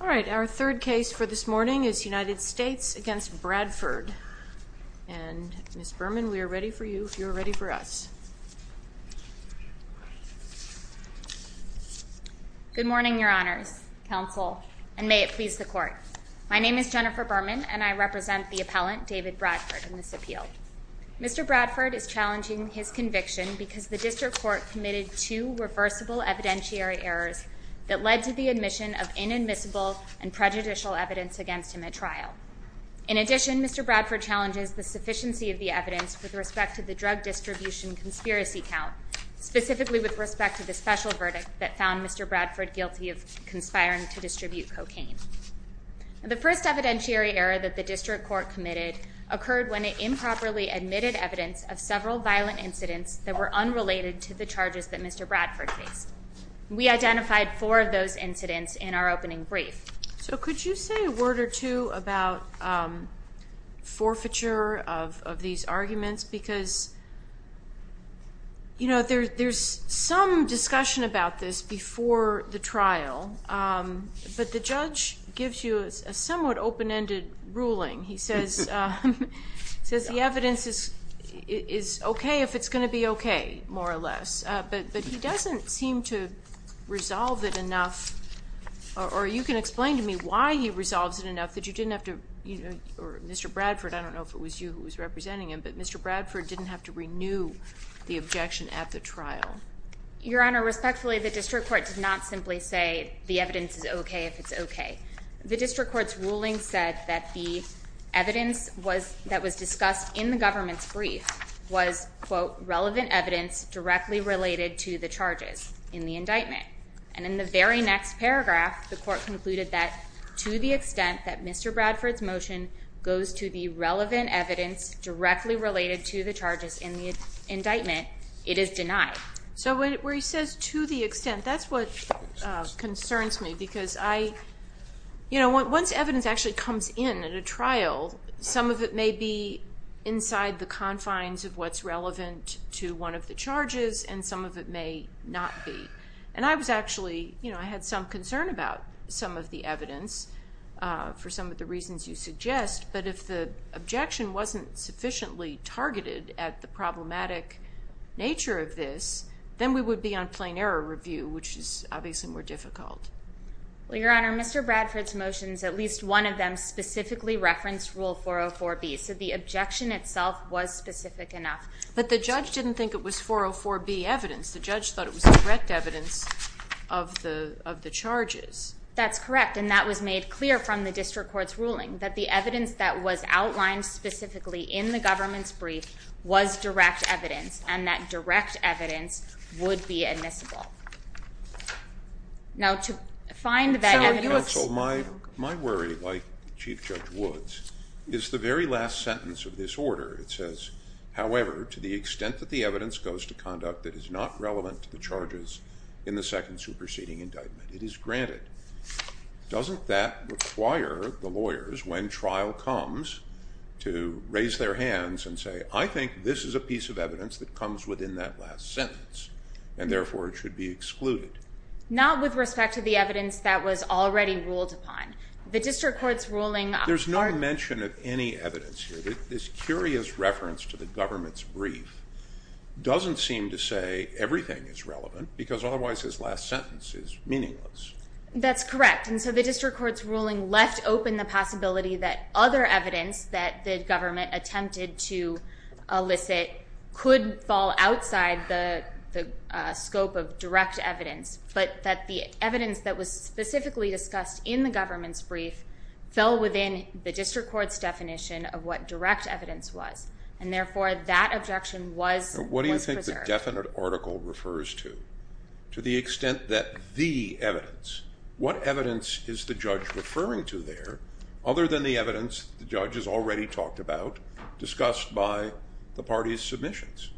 All right, our third case for this morning is United States v. Bradford. And Ms. Berman, we are ready for you if you are ready for us. Good morning, Your Honors, Counsel, and may it please the Court. My name is Jennifer Berman, and I represent the appellant, David Bradford, in this appeal. Mr. Bradford is challenging his conviction because the district court committed two reversible evidentiary errors that led to the admission of inadmissible and prejudicial evidence against him at trial. In addition, Mr. Bradford challenges the sufficiency of the evidence with respect to the drug distribution conspiracy count, specifically with respect to the special verdict that found Mr. Bradford guilty of conspiring to distribute cocaine. The first evidentiary error that the district court committed occurred when it improperly admitted evidence of several violent incidents that were unrelated to the charges that Mr. Bradford faced. We identified four of those incidents in our opening brief. So could you say a word or two about forfeiture of these arguments? Because, you know, there's some discussion about this before the trial, but the judge gives you a somewhat open-ended ruling. He says the evidence is okay if it's going to be okay, more or less, but he doesn't seem to resolve it enough, or you can explain to me why he resolves it enough that you didn't have to, or Mr. Bradford, I don't know if it was you who was representing him, but Mr. Bradford didn't have to renew the objection at the trial. Your Honor, respectfully, the district court did not simply say the evidence is okay if it's okay. The district court's ruling said that the evidence that was discussed in the government's brief was, quote, relevant evidence directly related to the charges in the indictment. And in the very next paragraph, the court concluded that to the extent that Mr. Bradford's motion goes to the relevant evidence directly related to the charges in the indictment, it is denied. So where he says to the extent, that's what concerns me because I, you know, once evidence actually comes in at a trial, some of it may be inside the confines of what's relevant to one of the charges and some of it may not be. And I was actually, you know, I had some concern about some of the evidence for some of the reasons you suggest, but if the objection wasn't sufficiently targeted at the problematic nature of this, then we would be on plain error review, which is obviously more difficult. Well, Your Honor, Mr. Bradford's motions, at least one of them specifically referenced Rule 404B. So the objection itself was specific enough. But the judge didn't think it was 404B evidence. The judge thought it was direct evidence of the charges. That's correct, and that was made clear from the district court's ruling, that the evidence that was outlined specifically in the government's brief was direct evidence, and that direct evidence would be admissible. Now to find that evidence. Counsel, my worry, like Chief Judge Woods, is the very last sentence of this order. It says, however, to the extent that the evidence goes to conduct that is not relevant to the charges in the second superseding indictment, it is granted. Doesn't that require the lawyers, when trial comes, to raise their hands and say, I think this is a piece of evidence that comes within that last sentence, and therefore it should be excluded? Not with respect to the evidence that was already ruled upon. The district court's ruling. There's no mention of any evidence here. This curious reference to the government's brief doesn't seem to say everything is relevant, because otherwise his last sentence is meaningless. That's correct. And so the district court's ruling left open the possibility that other evidence that the government attempted to elicit could fall outside the scope of direct evidence, but that the evidence that was specifically discussed in the government's brief fell within the district court's definition of what direct evidence was, and therefore that objection was preserved. What do you think the definite article refers to? To the extent that the evidence. What evidence is the judge referring to there, other than the evidence the judge has already talked about, discussed by the party's submissions?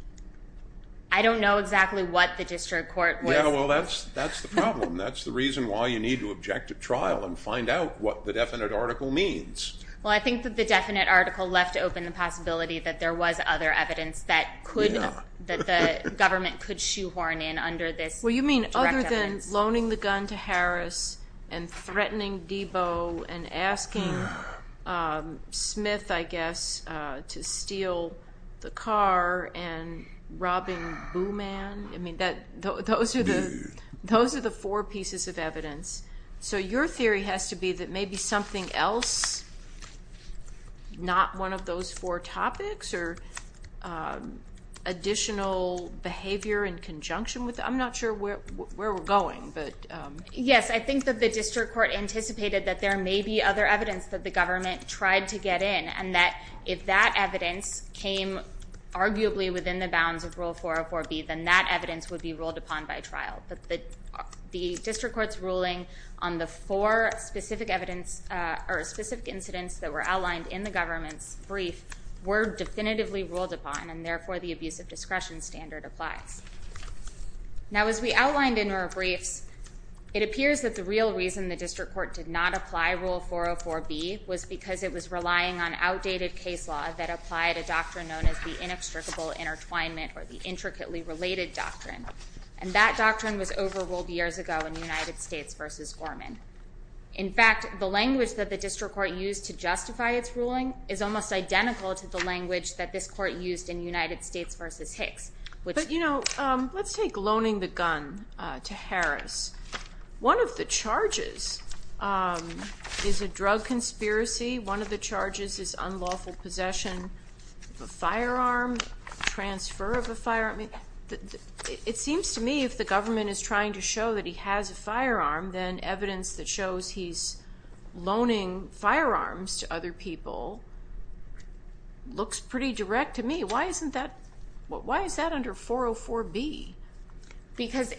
I don't know exactly what the district court was. Yeah, well, that's the problem. That's the reason why you need to object to trial and find out what the definite article means. Well, I think that the definite article left open the possibility that there was other evidence that the government could shoehorn in under this direct evidence. And loaning the gun to Harris and threatening Debo and asking Smith, I guess, to steal the car and robbing Boo Man. I mean, those are the four pieces of evidence. So your theory has to be that maybe something else, not one of those four topics, or additional behavior in conjunction with that. I'm not sure where we're going. Yes, I think that the district court anticipated that there may be other evidence that the government tried to get in, and that if that evidence came arguably within the bounds of Rule 404B, then that evidence would be ruled upon by trial. But the district court's ruling on the four specific incidents that were outlined in the government's brief were definitively ruled upon, and therefore the abuse of discretion standard applies. Now, as we outlined in our briefs, it appears that the real reason the district court did not apply Rule 404B was because it was relying on outdated case law that applied a doctrine known as the inextricable intertwinement or the intricately related doctrine. And that doctrine was overruled years ago in United States v. Gorman. In fact, the language that the district court used to justify its ruling is almost identical to the language that this court used in United States v. Hicks. But, you know, let's take loaning the gun to Harris. One of the charges is a drug conspiracy. One of the charges is unlawful possession of a firearm, transfer of a firearm. It seems to me if the government is trying to show that he has a firearm, then evidence that shows he's loaning firearms to other people looks pretty direct to me. Why is that under 404B? Because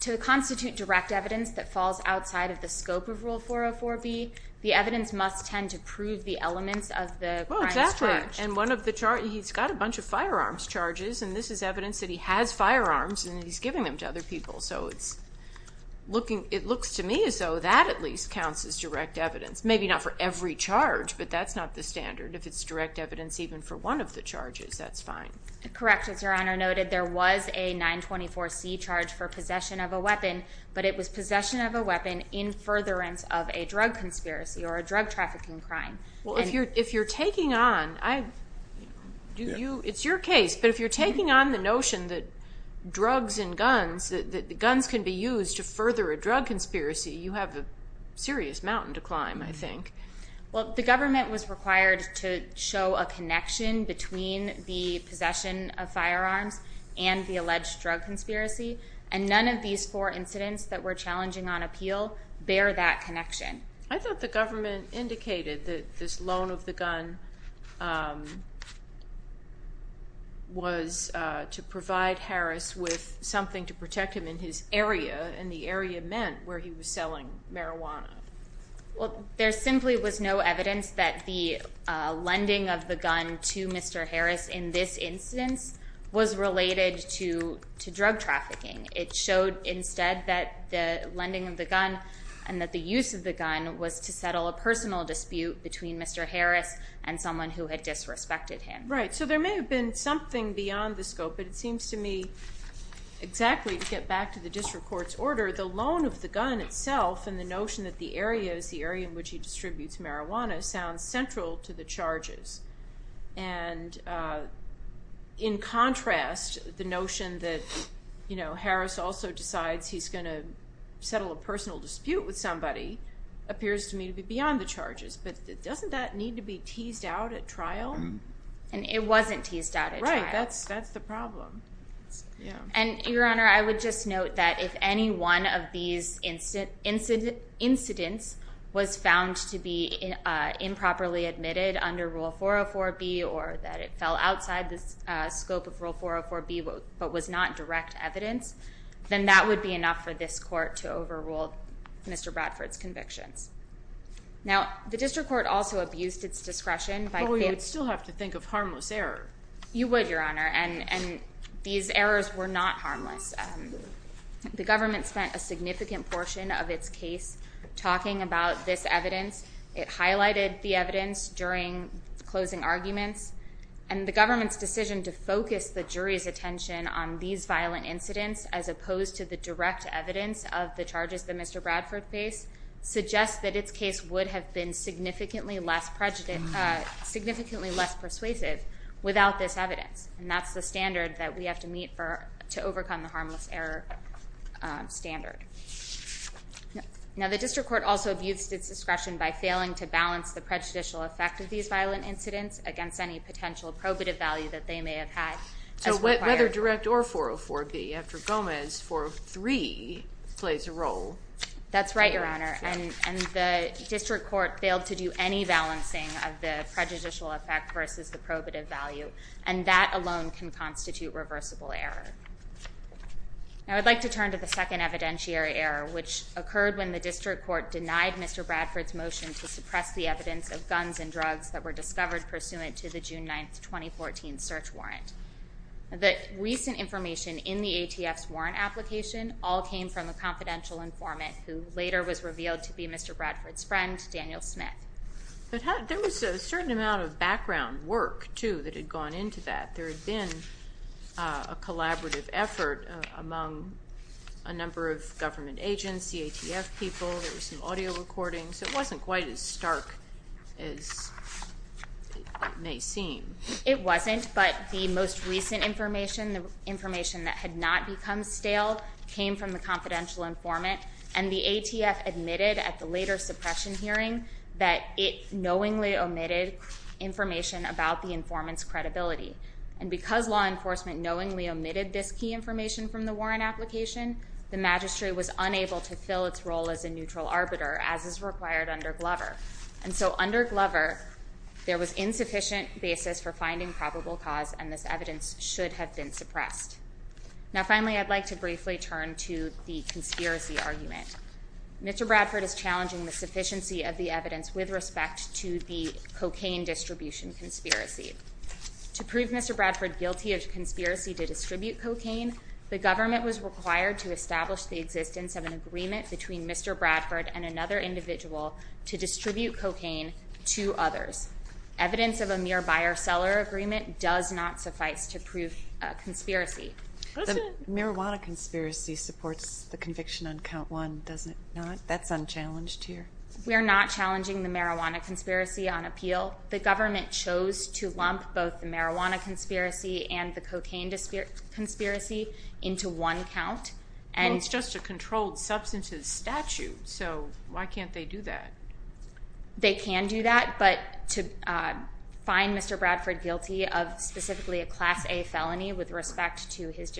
to constitute direct evidence that falls outside of the scope of Rule 404B, the evidence must tend to prove the elements of the crimes charged. And one of the charges, he's got a bunch of firearms charges, and this is evidence that he has firearms and he's giving them to other people. So it looks to me as though that at least counts as direct evidence. Maybe not for every charge, but that's not the standard. If it's direct evidence even for one of the charges, that's fine. Correct. As Your Honor noted, there was a 924C charge for possession of a weapon, but it was possession of a weapon in furtherance of a drug conspiracy or a drug trafficking crime. Well, if you're taking on, it's your case, but if you're taking on the notion that drugs and guns, that guns can be used to further a drug conspiracy, you have a serious mountain to climb, I think. Well, the government was required to show a connection between the possession of firearms and the alleged drug conspiracy, and none of these four incidents that we're challenging on appeal bear that connection. I thought the government indicated that this loan of the gun was to provide Harris with something to protect him in his area, and the area meant where he was selling marijuana. Well, there simply was no evidence that the lending of the gun to Mr. Harris in this instance was related to drug trafficking. It showed instead that the lending of the gun and that the use of the gun was to settle a personal dispute between Mr. Harris and someone who had disrespected him. Right. So there may have been something beyond the scope, but it seems to me exactly, to get back to the district court's order, the loan of the gun itself and the notion that the area is the area in which he distributes marijuana sounds central to the charges. And in contrast, the notion that Harris also decides he's going to settle a personal dispute with somebody appears to me to be beyond the charges. But doesn't that need to be teased out at trial? And it wasn't teased out at trial. Right. That's the problem. And, Your Honor, I would just note that if any one of these incidents was found to be improperly admitted under Rule 404B or that it fell outside the scope of Rule 404B but was not direct evidence, then that would be enough for this court to overrule Mr. Bradford's convictions. Now, the district court also abused its discretion by Well, we would still have to think of harmless error. You would, Your Honor, and these errors were not harmless. The government spent a significant portion of its case talking about this evidence. It highlighted the evidence during closing arguments, and the government's decision to focus the jury's attention on these violent incidents as opposed to the direct evidence of the charges that Mr. Bradford faced suggests that its case would have been significantly less persuasive without this evidence. And that's the standard that we have to meet to overcome the harmless error standard. Now, the district court also abused its discretion by failing to balance the prejudicial effect of these violent incidents against any potential probative value that they may have had. So whether direct or 404B, after Gomez, 403 plays a role. That's right, Your Honor. And the district court failed to do any balancing of the prejudicial effect versus the probative value. And that alone can constitute reversible error. Now, I'd like to turn to the second evidentiary error, which occurred when the district court denied Mr. Bradford's motion to suppress the evidence of guns and drugs that were discovered pursuant to the June 9, 2014 search warrant. The recent information in the ATF's warrant application all came from a confidential informant, who later was revealed to be Mr. Bradford's friend, Daniel Smith. There was a certain amount of background work, too, that had gone into that. There had been a collaborative effort among a number of government agents, the ATF people, there were some audio recordings. It wasn't quite as stark as it may seem. It wasn't, but the most recent information, the information that had not become stale, came from the confidential informant. And the ATF admitted at the later suppression hearing that it knowingly omitted information about the informant's credibility. And because law enforcement knowingly omitted this key information from the warrant application, the magistrate was unable to fill its role as a neutral arbiter, as is required under Glover. And so under Glover, there was insufficient basis for finding probable cause, and this evidence should have been suppressed. Now, finally, I'd like to briefly turn to the conspiracy argument. Mr. Bradford is challenging the sufficiency of the evidence with respect to the cocaine distribution conspiracy. To prove Mr. Bradford guilty of conspiracy to distribute cocaine, the government was required to establish the existence of an agreement between Mr. Bradford and another individual to distribute cocaine to others. Evidence of a mere buyer-seller agreement does not suffice to prove a conspiracy. The marijuana conspiracy supports the conviction on count one, does it not? That's unchallenged here. We are not challenging the marijuana conspiracy on appeal. The government chose to lump both the marijuana conspiracy and the cocaine conspiracy into one count. Well, it's just a controlled substances statute, so why can't they do that? They can do that, but to find Mr. Bradford guilty of specifically a Class A felony with respect to his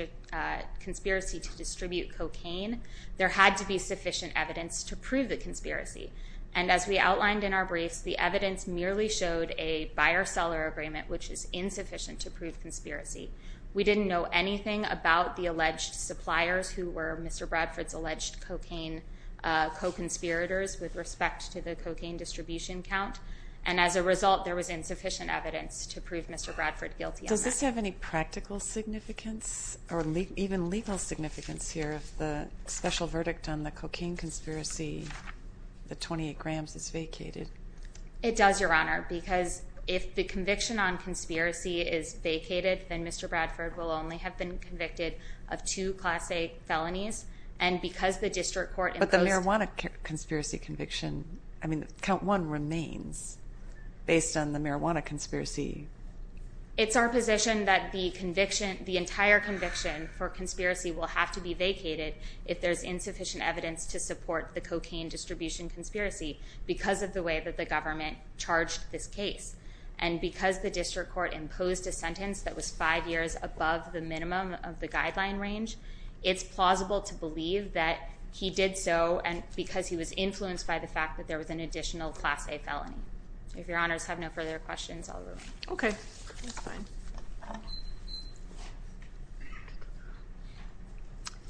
conspiracy to distribute cocaine, there had to be sufficient evidence to prove the conspiracy. And as we outlined in our briefs, the evidence merely showed a buyer-seller agreement which is insufficient to prove conspiracy. We didn't know anything about the alleged suppliers who were Mr. Bradford's alleged cocaine co-conspirators with respect to the cocaine distribution count. And as a result, there was insufficient evidence to prove Mr. Bradford guilty of that. Does this have any practical significance or even legal significance here if the special verdict on the cocaine conspiracy, the 28 grams, is vacated? It does, Your Honor, because if the conviction on conspiracy is vacated, then Mr. Bradford will only have been convicted of two Class A felonies. But the marijuana conspiracy conviction, I mean, count one remains based on the marijuana conspiracy. It's our position that the entire conviction for conspiracy will have to be vacated if there's insufficient evidence to support the cocaine distribution conspiracy because of the way that the government charged this case. And because the district court imposed a sentence that was five years above the minimum of the guideline range, it's plausible to believe that he did so because he was influenced by the fact that there was an additional Class A felony. If Your Honors have no further questions, I'll move on. Okay. That's fine.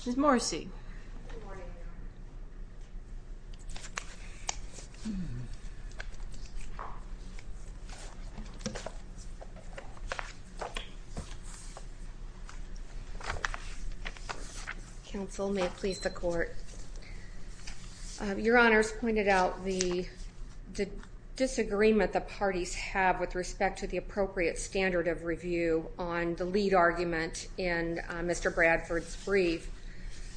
Good morning, Your Honor. Counsel, may it please the Court. Your Honors pointed out the disagreement the parties have with respect to the appropriate standard of review on the lead argument in Mr. Bradford's brief.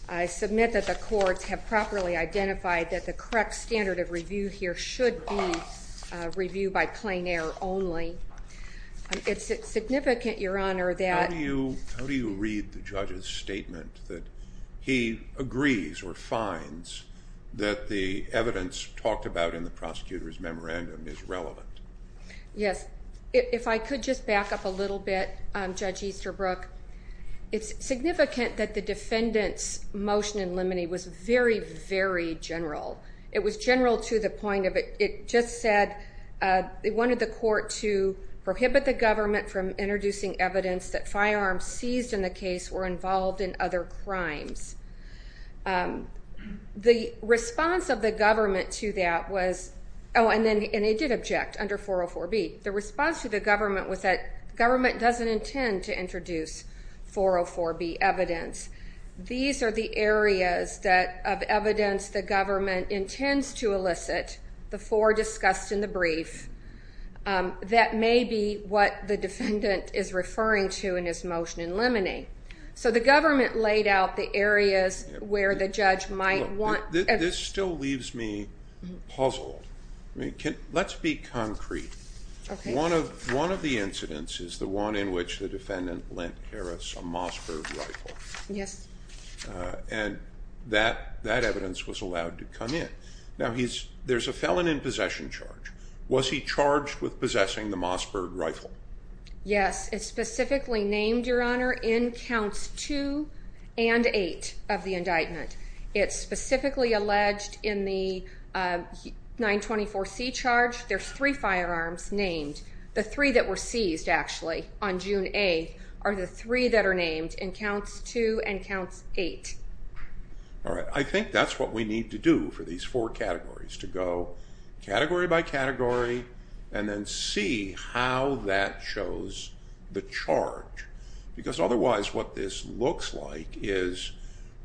I submit that the courts have properly identified that the correct standard of review here should be review by plain air only. It's significant, Your Honor, that... that he agrees or finds that the evidence talked about in the prosecutor's memorandum is relevant. Yes. If I could just back up a little bit, Judge Easterbrook. It's significant that the defendant's motion in limine was very, very general. It was general to the point of it just said they wanted the court to prohibit the government from introducing evidence that firearms seized in the case were involved in other crimes. The response of the government to that was... Oh, and they did object under 404B. The response to the government was that government doesn't intend to introduce 404B evidence. These are the areas of evidence the government intends to elicit, the four discussed in the brief. That may be what the defendant is referring to in his motion in limine. So the government laid out the areas where the judge might want... This still leaves me puzzled. Let's be concrete. One of the incidents is the one in which the defendant lent Harris a Mossberg rifle. Yes. And that evidence was allowed to come in. Now, there's a felon in possession charge. Was he charged with possessing the Mossberg rifle? Yes. It's specifically named, Your Honor, in Counts 2 and 8 of the indictment. It's specifically alleged in the 924C charge. There's three firearms named. The three that were seized, actually, on June 8th are the three that are named in Counts 2 and Counts 8. All right. I think that's what we need to do for these four categories to go category by category and then see how that shows the charge, because otherwise what this looks like is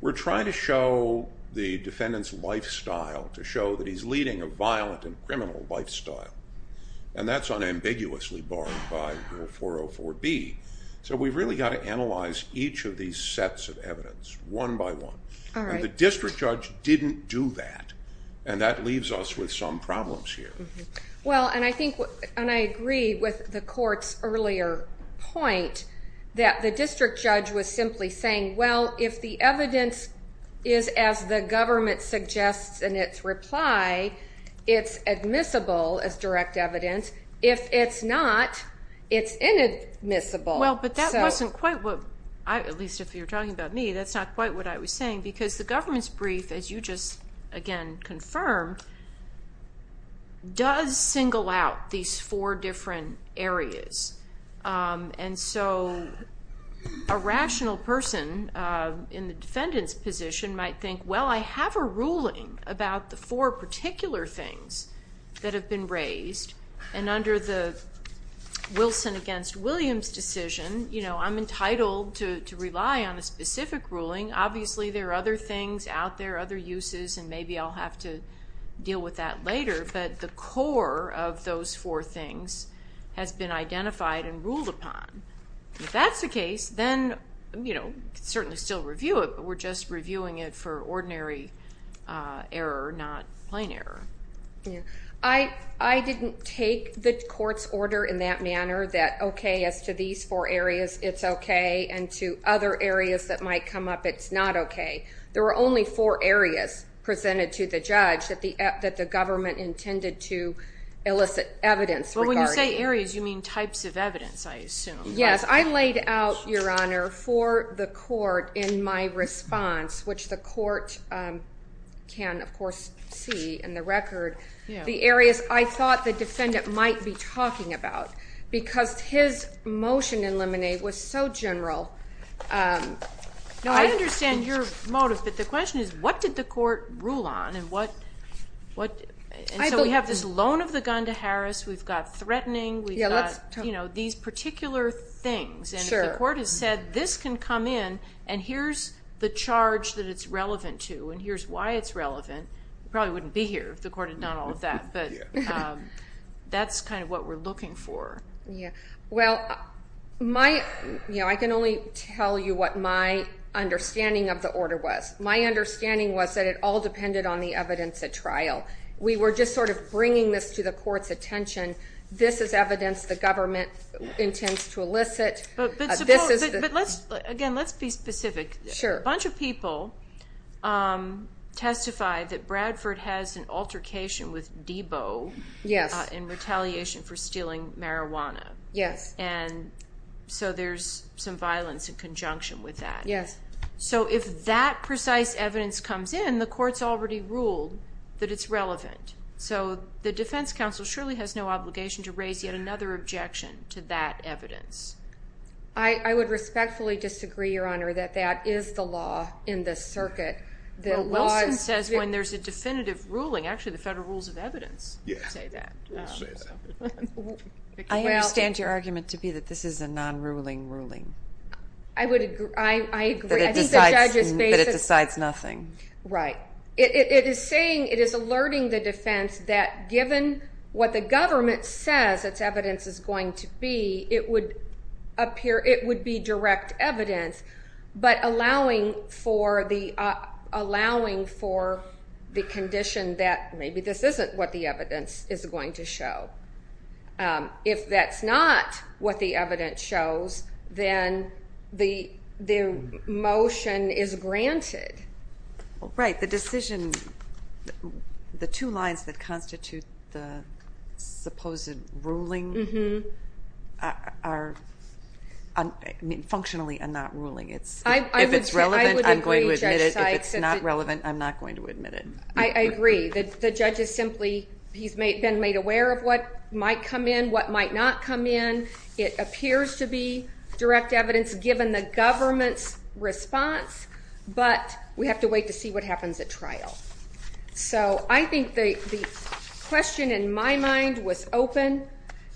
we're trying to show the defendant's lifestyle, to show that he's leading a violent and criminal lifestyle, and that's unambiguously barred by Rule 404B. So we've really got to analyze each of these sets of evidence one by one. All right. And the district judge didn't do that, and that leaves us with some problems here. Well, and I agree with the court's earlier point that the district judge was simply saying, well, if the evidence is as the government suggests in its reply, it's admissible as direct evidence. If it's not, it's inadmissible. Well, but that wasn't quite what, at least if you're talking about me, that's not quite what I was saying, because the government's brief, as you just, again, confirmed, does single out these four different areas. And so a rational person in the defendant's position might think, well, I have a ruling about the four particular things that have been raised, and under the Wilson against Williams decision, you know, I'm entitled to rely on a specific ruling. Obviously there are other things out there, other uses, and maybe I'll have to deal with that later, but the core of those four things has been identified and ruled upon. If that's the case, then, you know, certainly still review it, but we're just reviewing it for ordinary error, not plain error. I didn't take the court's order in that manner that, okay, as to these four areas, it's okay, and to other areas that might come up, it's not okay. There were only four areas presented to the judge that the government intended to elicit evidence. But when you say areas, you mean types of evidence, I assume. Yes. I laid out, Your Honor, for the court in my response, which the court can, of course, see in the record, the areas I thought the defendant might be talking about, because his motion in Lemonade was so general. No, I understand your motive, but the question is what did the court rule on and what? And so we have this loan of the gun to Harris. We've got threatening. We've got, you know, these particular things. And if the court has said this can come in and here's the charge that it's relevant to and here's why it's relevant, it probably wouldn't be here if the court had done all of that. But that's kind of what we're looking for. Well, you know, I can only tell you what my understanding of the order was. My understanding was that it all depended on the evidence at trial. We were just sort of bringing this to the court's attention. This is evidence the government intends to elicit. But, again, let's be specific. Sure. A bunch of people testified that Bradford has an altercation with Debo in retaliation for stealing marijuana. Yes. And so there's some violence in conjunction with that. Yes. So if that precise evidence comes in, the court's already ruled that it's relevant. So the defense counsel surely has no obligation to raise yet another objection to that evidence. I would respectfully disagree, Your Honor, that that is the law in this circuit. Well, Wilson says when there's a definitive ruling, actually the Federal Rules of Evidence say that. I understand your argument to be that this is a non-ruling ruling. I agree. But it decides nothing. Right. It is saying, it is alerting the defense that given what the government says its evidence is going to be, it would be direct evidence, but allowing for the condition that maybe this isn't what the evidence is going to show. If that's not what the evidence shows, then the motion is granted. Right. The decision, the two lines that constitute the supposed ruling are functionally a non-ruling. If it's relevant, I'm going to admit it. If it's not relevant, I'm not going to admit it. I agree. The judge is simply, he's been made aware of what might come in, what might not come in. It appears to be direct evidence given the government's response, but we have to wait to see what happens at trial. So I think the question in my mind was open.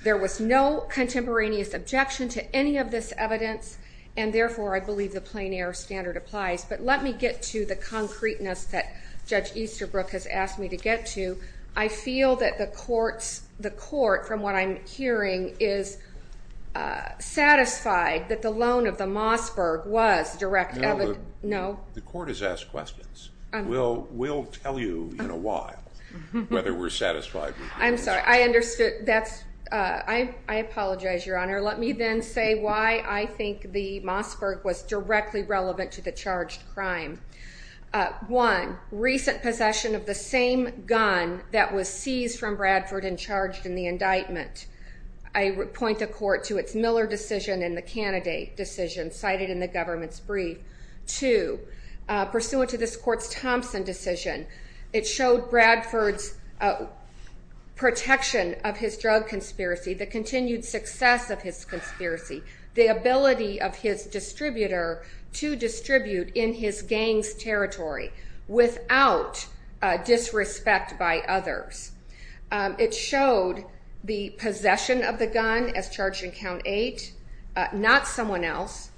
There was no contemporaneous objection to any of this evidence, and therefore I believe the plein air standard applies. But let me get to the concreteness that Judge Easterbrook has asked me to get to. I feel that the court, from what I'm hearing, is satisfied that the loan of the Mossberg was direct evidence. No, the court has asked questions. We'll tell you in a while whether we're satisfied with the Mossberg. I'm sorry. I understood. I apologize, Your Honor. Let me then say why I think the Mossberg was directly relevant to the charged crime. One, recent possession of the same gun that was seized from Bradford and charged in the indictment. I would point the court to its Miller decision and the candidate decision cited in the government's brief. Two, pursuant to this court's Thompson decision, it showed Bradford's protection of his drug conspiracy, the continued success of his conspiracy, the ability of his distributor to distribute in his gang's territory without disrespect by others. It showed the possession of the gun as charged in Count 8, not someone else.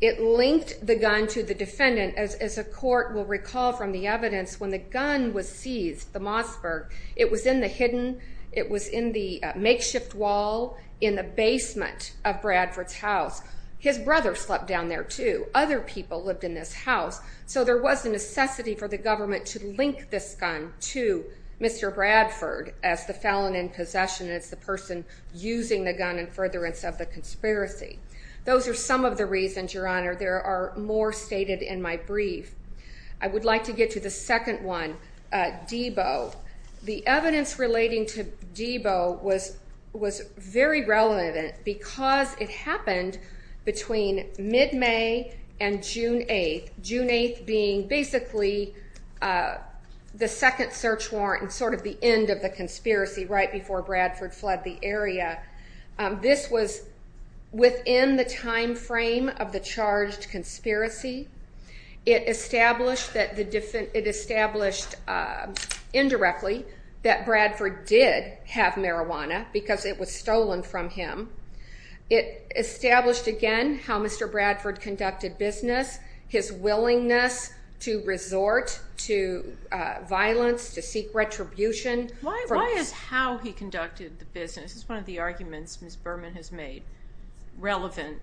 It linked the gun to the defendant. As a court will recall from the evidence, when the gun was seized, the Mossberg, it was in the hidden, it was in the makeshift wall in the basement of Bradford's house. His brother slept down there, too. Other people lived in this house. So there was a necessity for the government to link this gun to Mr. Bradford as the felon in possession, as the person using the gun in furtherance of the conspiracy. Those are some of the reasons, Your Honor. There are more stated in my brief. I would like to get to the second one, Deboe. The evidence relating to Deboe was very relevant because it happened between mid-May and June 8, June 8 being basically the second search warrant and sort of the end of the conspiracy right before Bradford fled the area. This was within the time frame of the charged conspiracy. It established indirectly that Bradford did have marijuana because it was stolen from him. It established again how Mr. Bradford conducted business, his willingness to resort to violence, to seek retribution. Why is how he conducted the business, this is one of the arguments Ms. Berman has made, relevant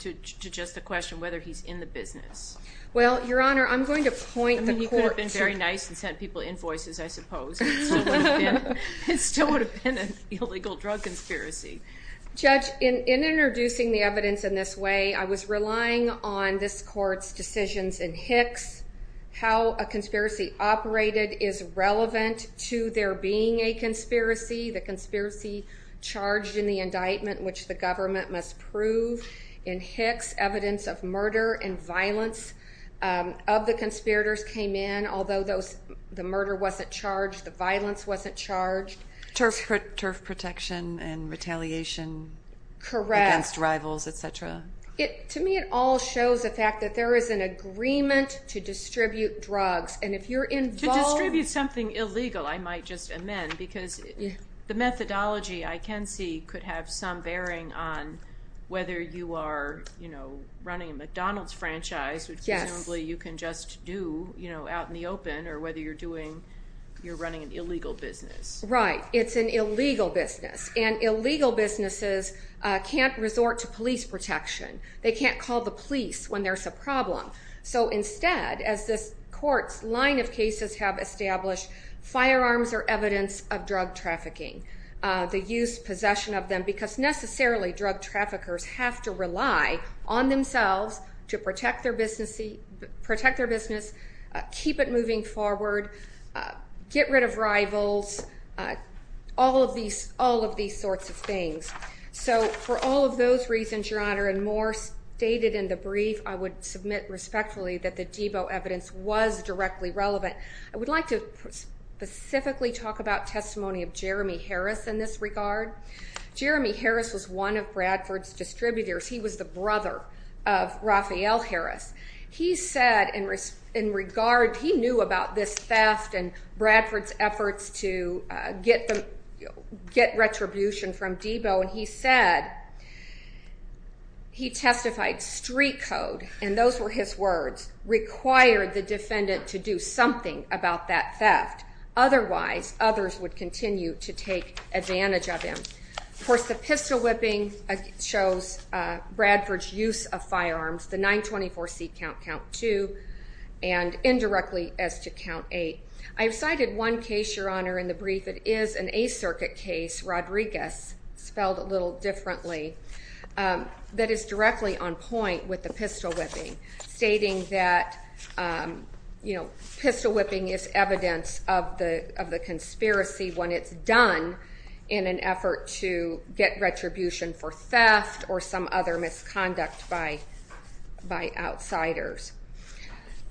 to just the question whether he's in the business? Well, Your Honor, I'm going to point the court to... I mean, he could have been very nice and sent people invoices, I suppose. It still would have been an illegal drug conspiracy. Judge, in introducing the evidence in this way, I was relying on this court's decisions in Hicks, how a conspiracy operated is relevant to there being a conspiracy. The conspiracy charged in the indictment, which the government must prove in Hicks, evidence of murder and violence of the conspirators came in. Although the murder wasn't charged, the violence wasn't charged. Turf protection and retaliation against rivals, et cetera. To me, it all shows the fact that there is an agreement to distribute drugs. And if you're involved... To distribute something illegal, I might just amend, because the methodology I can see could have some bearing on whether you are running a McDonald's franchise, which presumably you can just do out in the open, or whether you're running an illegal business. Right. It's an illegal business. And illegal businesses can't resort to police protection. They can't call the police when there's a problem. So instead, as this court's line of cases have established, firearms are evidence of drug trafficking. The use, possession of them, because necessarily drug traffickers have to rely on themselves to protect their business, keep it moving forward, get rid of rivals, all of these sorts of things. So for all of those reasons, Your Honor, and more stated in the brief, I would submit respectfully that the Debo evidence was directly relevant. I would like to specifically talk about testimony of Jeremy Harris in this regard. Jeremy Harris was one of Bradford's distributors. He was the brother of Raphael Harris. He said in regard, he knew about this theft and Bradford's efforts to get retribution from Debo, and he said he testified, street code, and those were his words, required the defendant to do something about that theft. Otherwise, others would continue to take advantage of him. Of course, the pistol whipping shows Bradford's use of firearms, the 924C count, count 2, and indirectly as to count 8. I've cited one case, Your Honor, in the brief. It is an A circuit case, Rodriguez, spelled a little differently, that is directly on point with the pistol whipping, stating that, you know, pistol whipping is evidence of the conspiracy when it's done in an effort to get retribution for theft or some other misconduct by outsiders.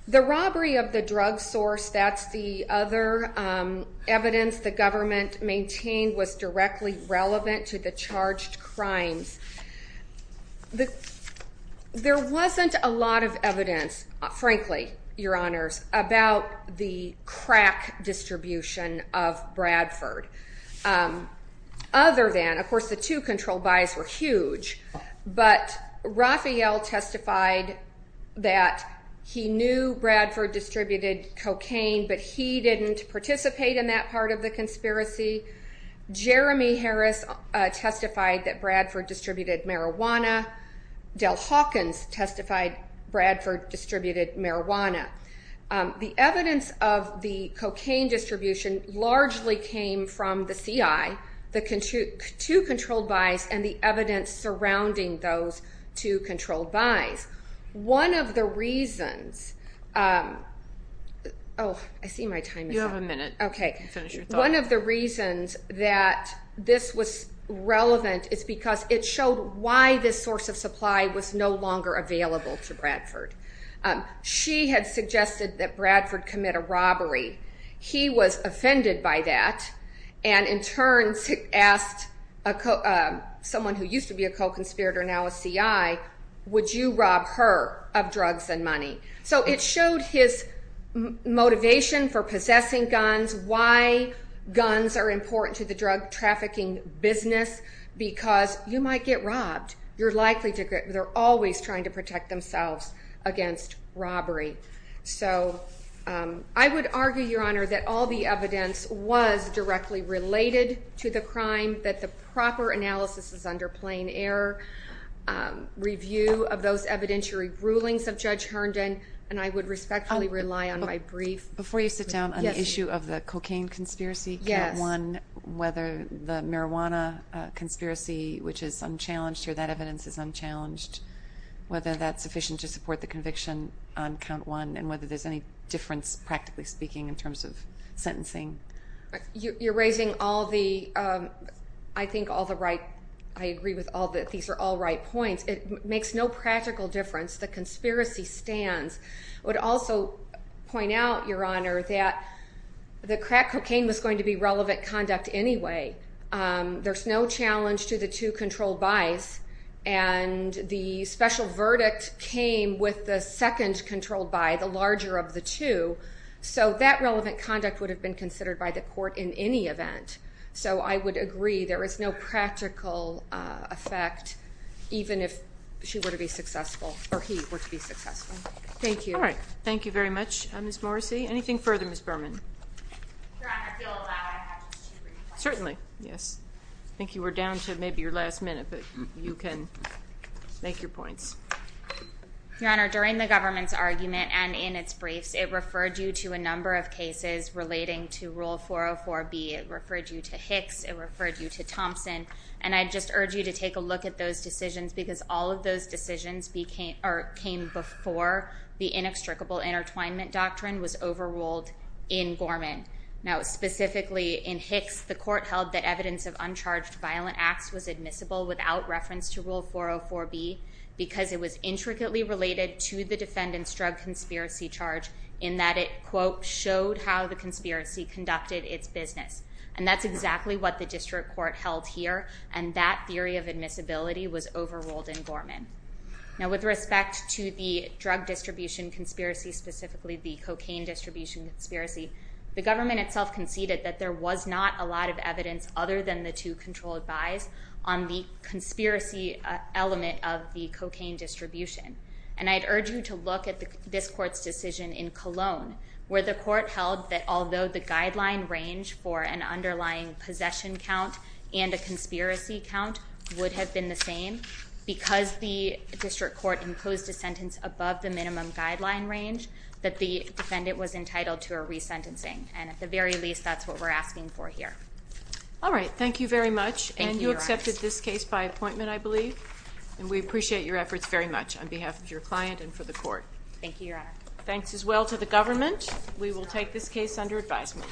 The robbery of the drug source, that's the other evidence the government maintained was directly relevant to the charged crimes. There wasn't a lot of evidence, frankly, Your Honors, about the crack distribution of Bradford. Other than, of course, the two control buys were huge, but Raphael testified that he knew Bradford distributed cocaine, but he didn't participate in that part of the conspiracy. Jeremy Harris testified that Bradford distributed marijuana. Del Hawkins testified Bradford distributed marijuana. The evidence of the cocaine distribution largely came from the CI, the two control buys, and the evidence surrounding those two control buys. One of the reasons... Oh, I see my time is up. You have a minute. Okay. Finish your thought. One of the reasons that this was relevant is because it showed why this source of supply was no longer available to Bradford. She had suggested that Bradford commit a robbery. He was offended by that and in turn asked someone who used to be a co-conspirator, now a CI, would you rob her of drugs and money? So it showed his motivation for possessing guns, why guns are important to the drug trafficking business, because you might get robbed. They're always trying to protect themselves against robbery. So I would argue, Your Honor, that all the evidence was directly related to the crime, that the proper analysis is under plain error, review of those evidentiary rulings of Judge Herndon, and I would respectfully rely on my brief. Before you sit down on the issue of the cocaine conspiracy, count one, whether the marijuana conspiracy, which is unchallenged here, that evidence is unchallenged, whether that's sufficient to support the conviction on count one and whether there's any difference, practically speaking, in terms of sentencing. You're raising all the, I think, all the right, I agree with all that these are all right points. It makes no practical difference. The conspiracy stands. I would also point out, Your Honor, that the crack cocaine was going to be relevant conduct anyway. There's no challenge to the two controlled buys, and the special verdict came with the second controlled buy, the larger of the two, so that relevant conduct would have been considered by the court in any event. So I would agree there is no practical effect, even if she were to be successful, or he were to be successful. Thank you. All right. Thank you very much, Ms. Morrissey. Anything further, Ms. Berman? Your Honor, if you'll allow, I have just two brief questions. Certainly. Yes. I think you were down to maybe your last minute, but you can make your points. Your Honor, during the government's argument and in its briefs, it referred you to a number of cases relating to Rule 404B. It referred you to Hicks. It referred you to Thompson. And I just urge you to take a look at those decisions because all of those decisions came before the inextricable intertwinement doctrine was overruled in Gorman. Now, specifically in Hicks, the court held that evidence of uncharged violent acts was admissible without reference to Rule 404B because it was intricately related to the defendant's drug conspiracy charge in that it, quote, showed how the conspiracy conducted its business. And that's exactly what the district court held here, and that theory of admissibility was overruled in Gorman. Now, with respect to the drug distribution conspiracy, specifically the cocaine distribution conspiracy, the government itself conceded that there was not a lot of evidence, other than the two controlled buys, on the conspiracy element of the cocaine distribution. And I'd urge you to look at this court's decision in Cologne where the court held that although the guideline range for an underlying possession count and a conspiracy count would have been the same, because the district court imposed a sentence above the minimum guideline range, that the defendant was entitled to a resentencing. And at the very least, that's what we're asking for here. All right. Thank you very much. Thank you, Your Honor. And you accepted this case by appointment, I believe. And we appreciate your efforts very much on behalf of your client and for the court. Thank you, Your Honor. Thanks as well to the government. We will take this case under advisement.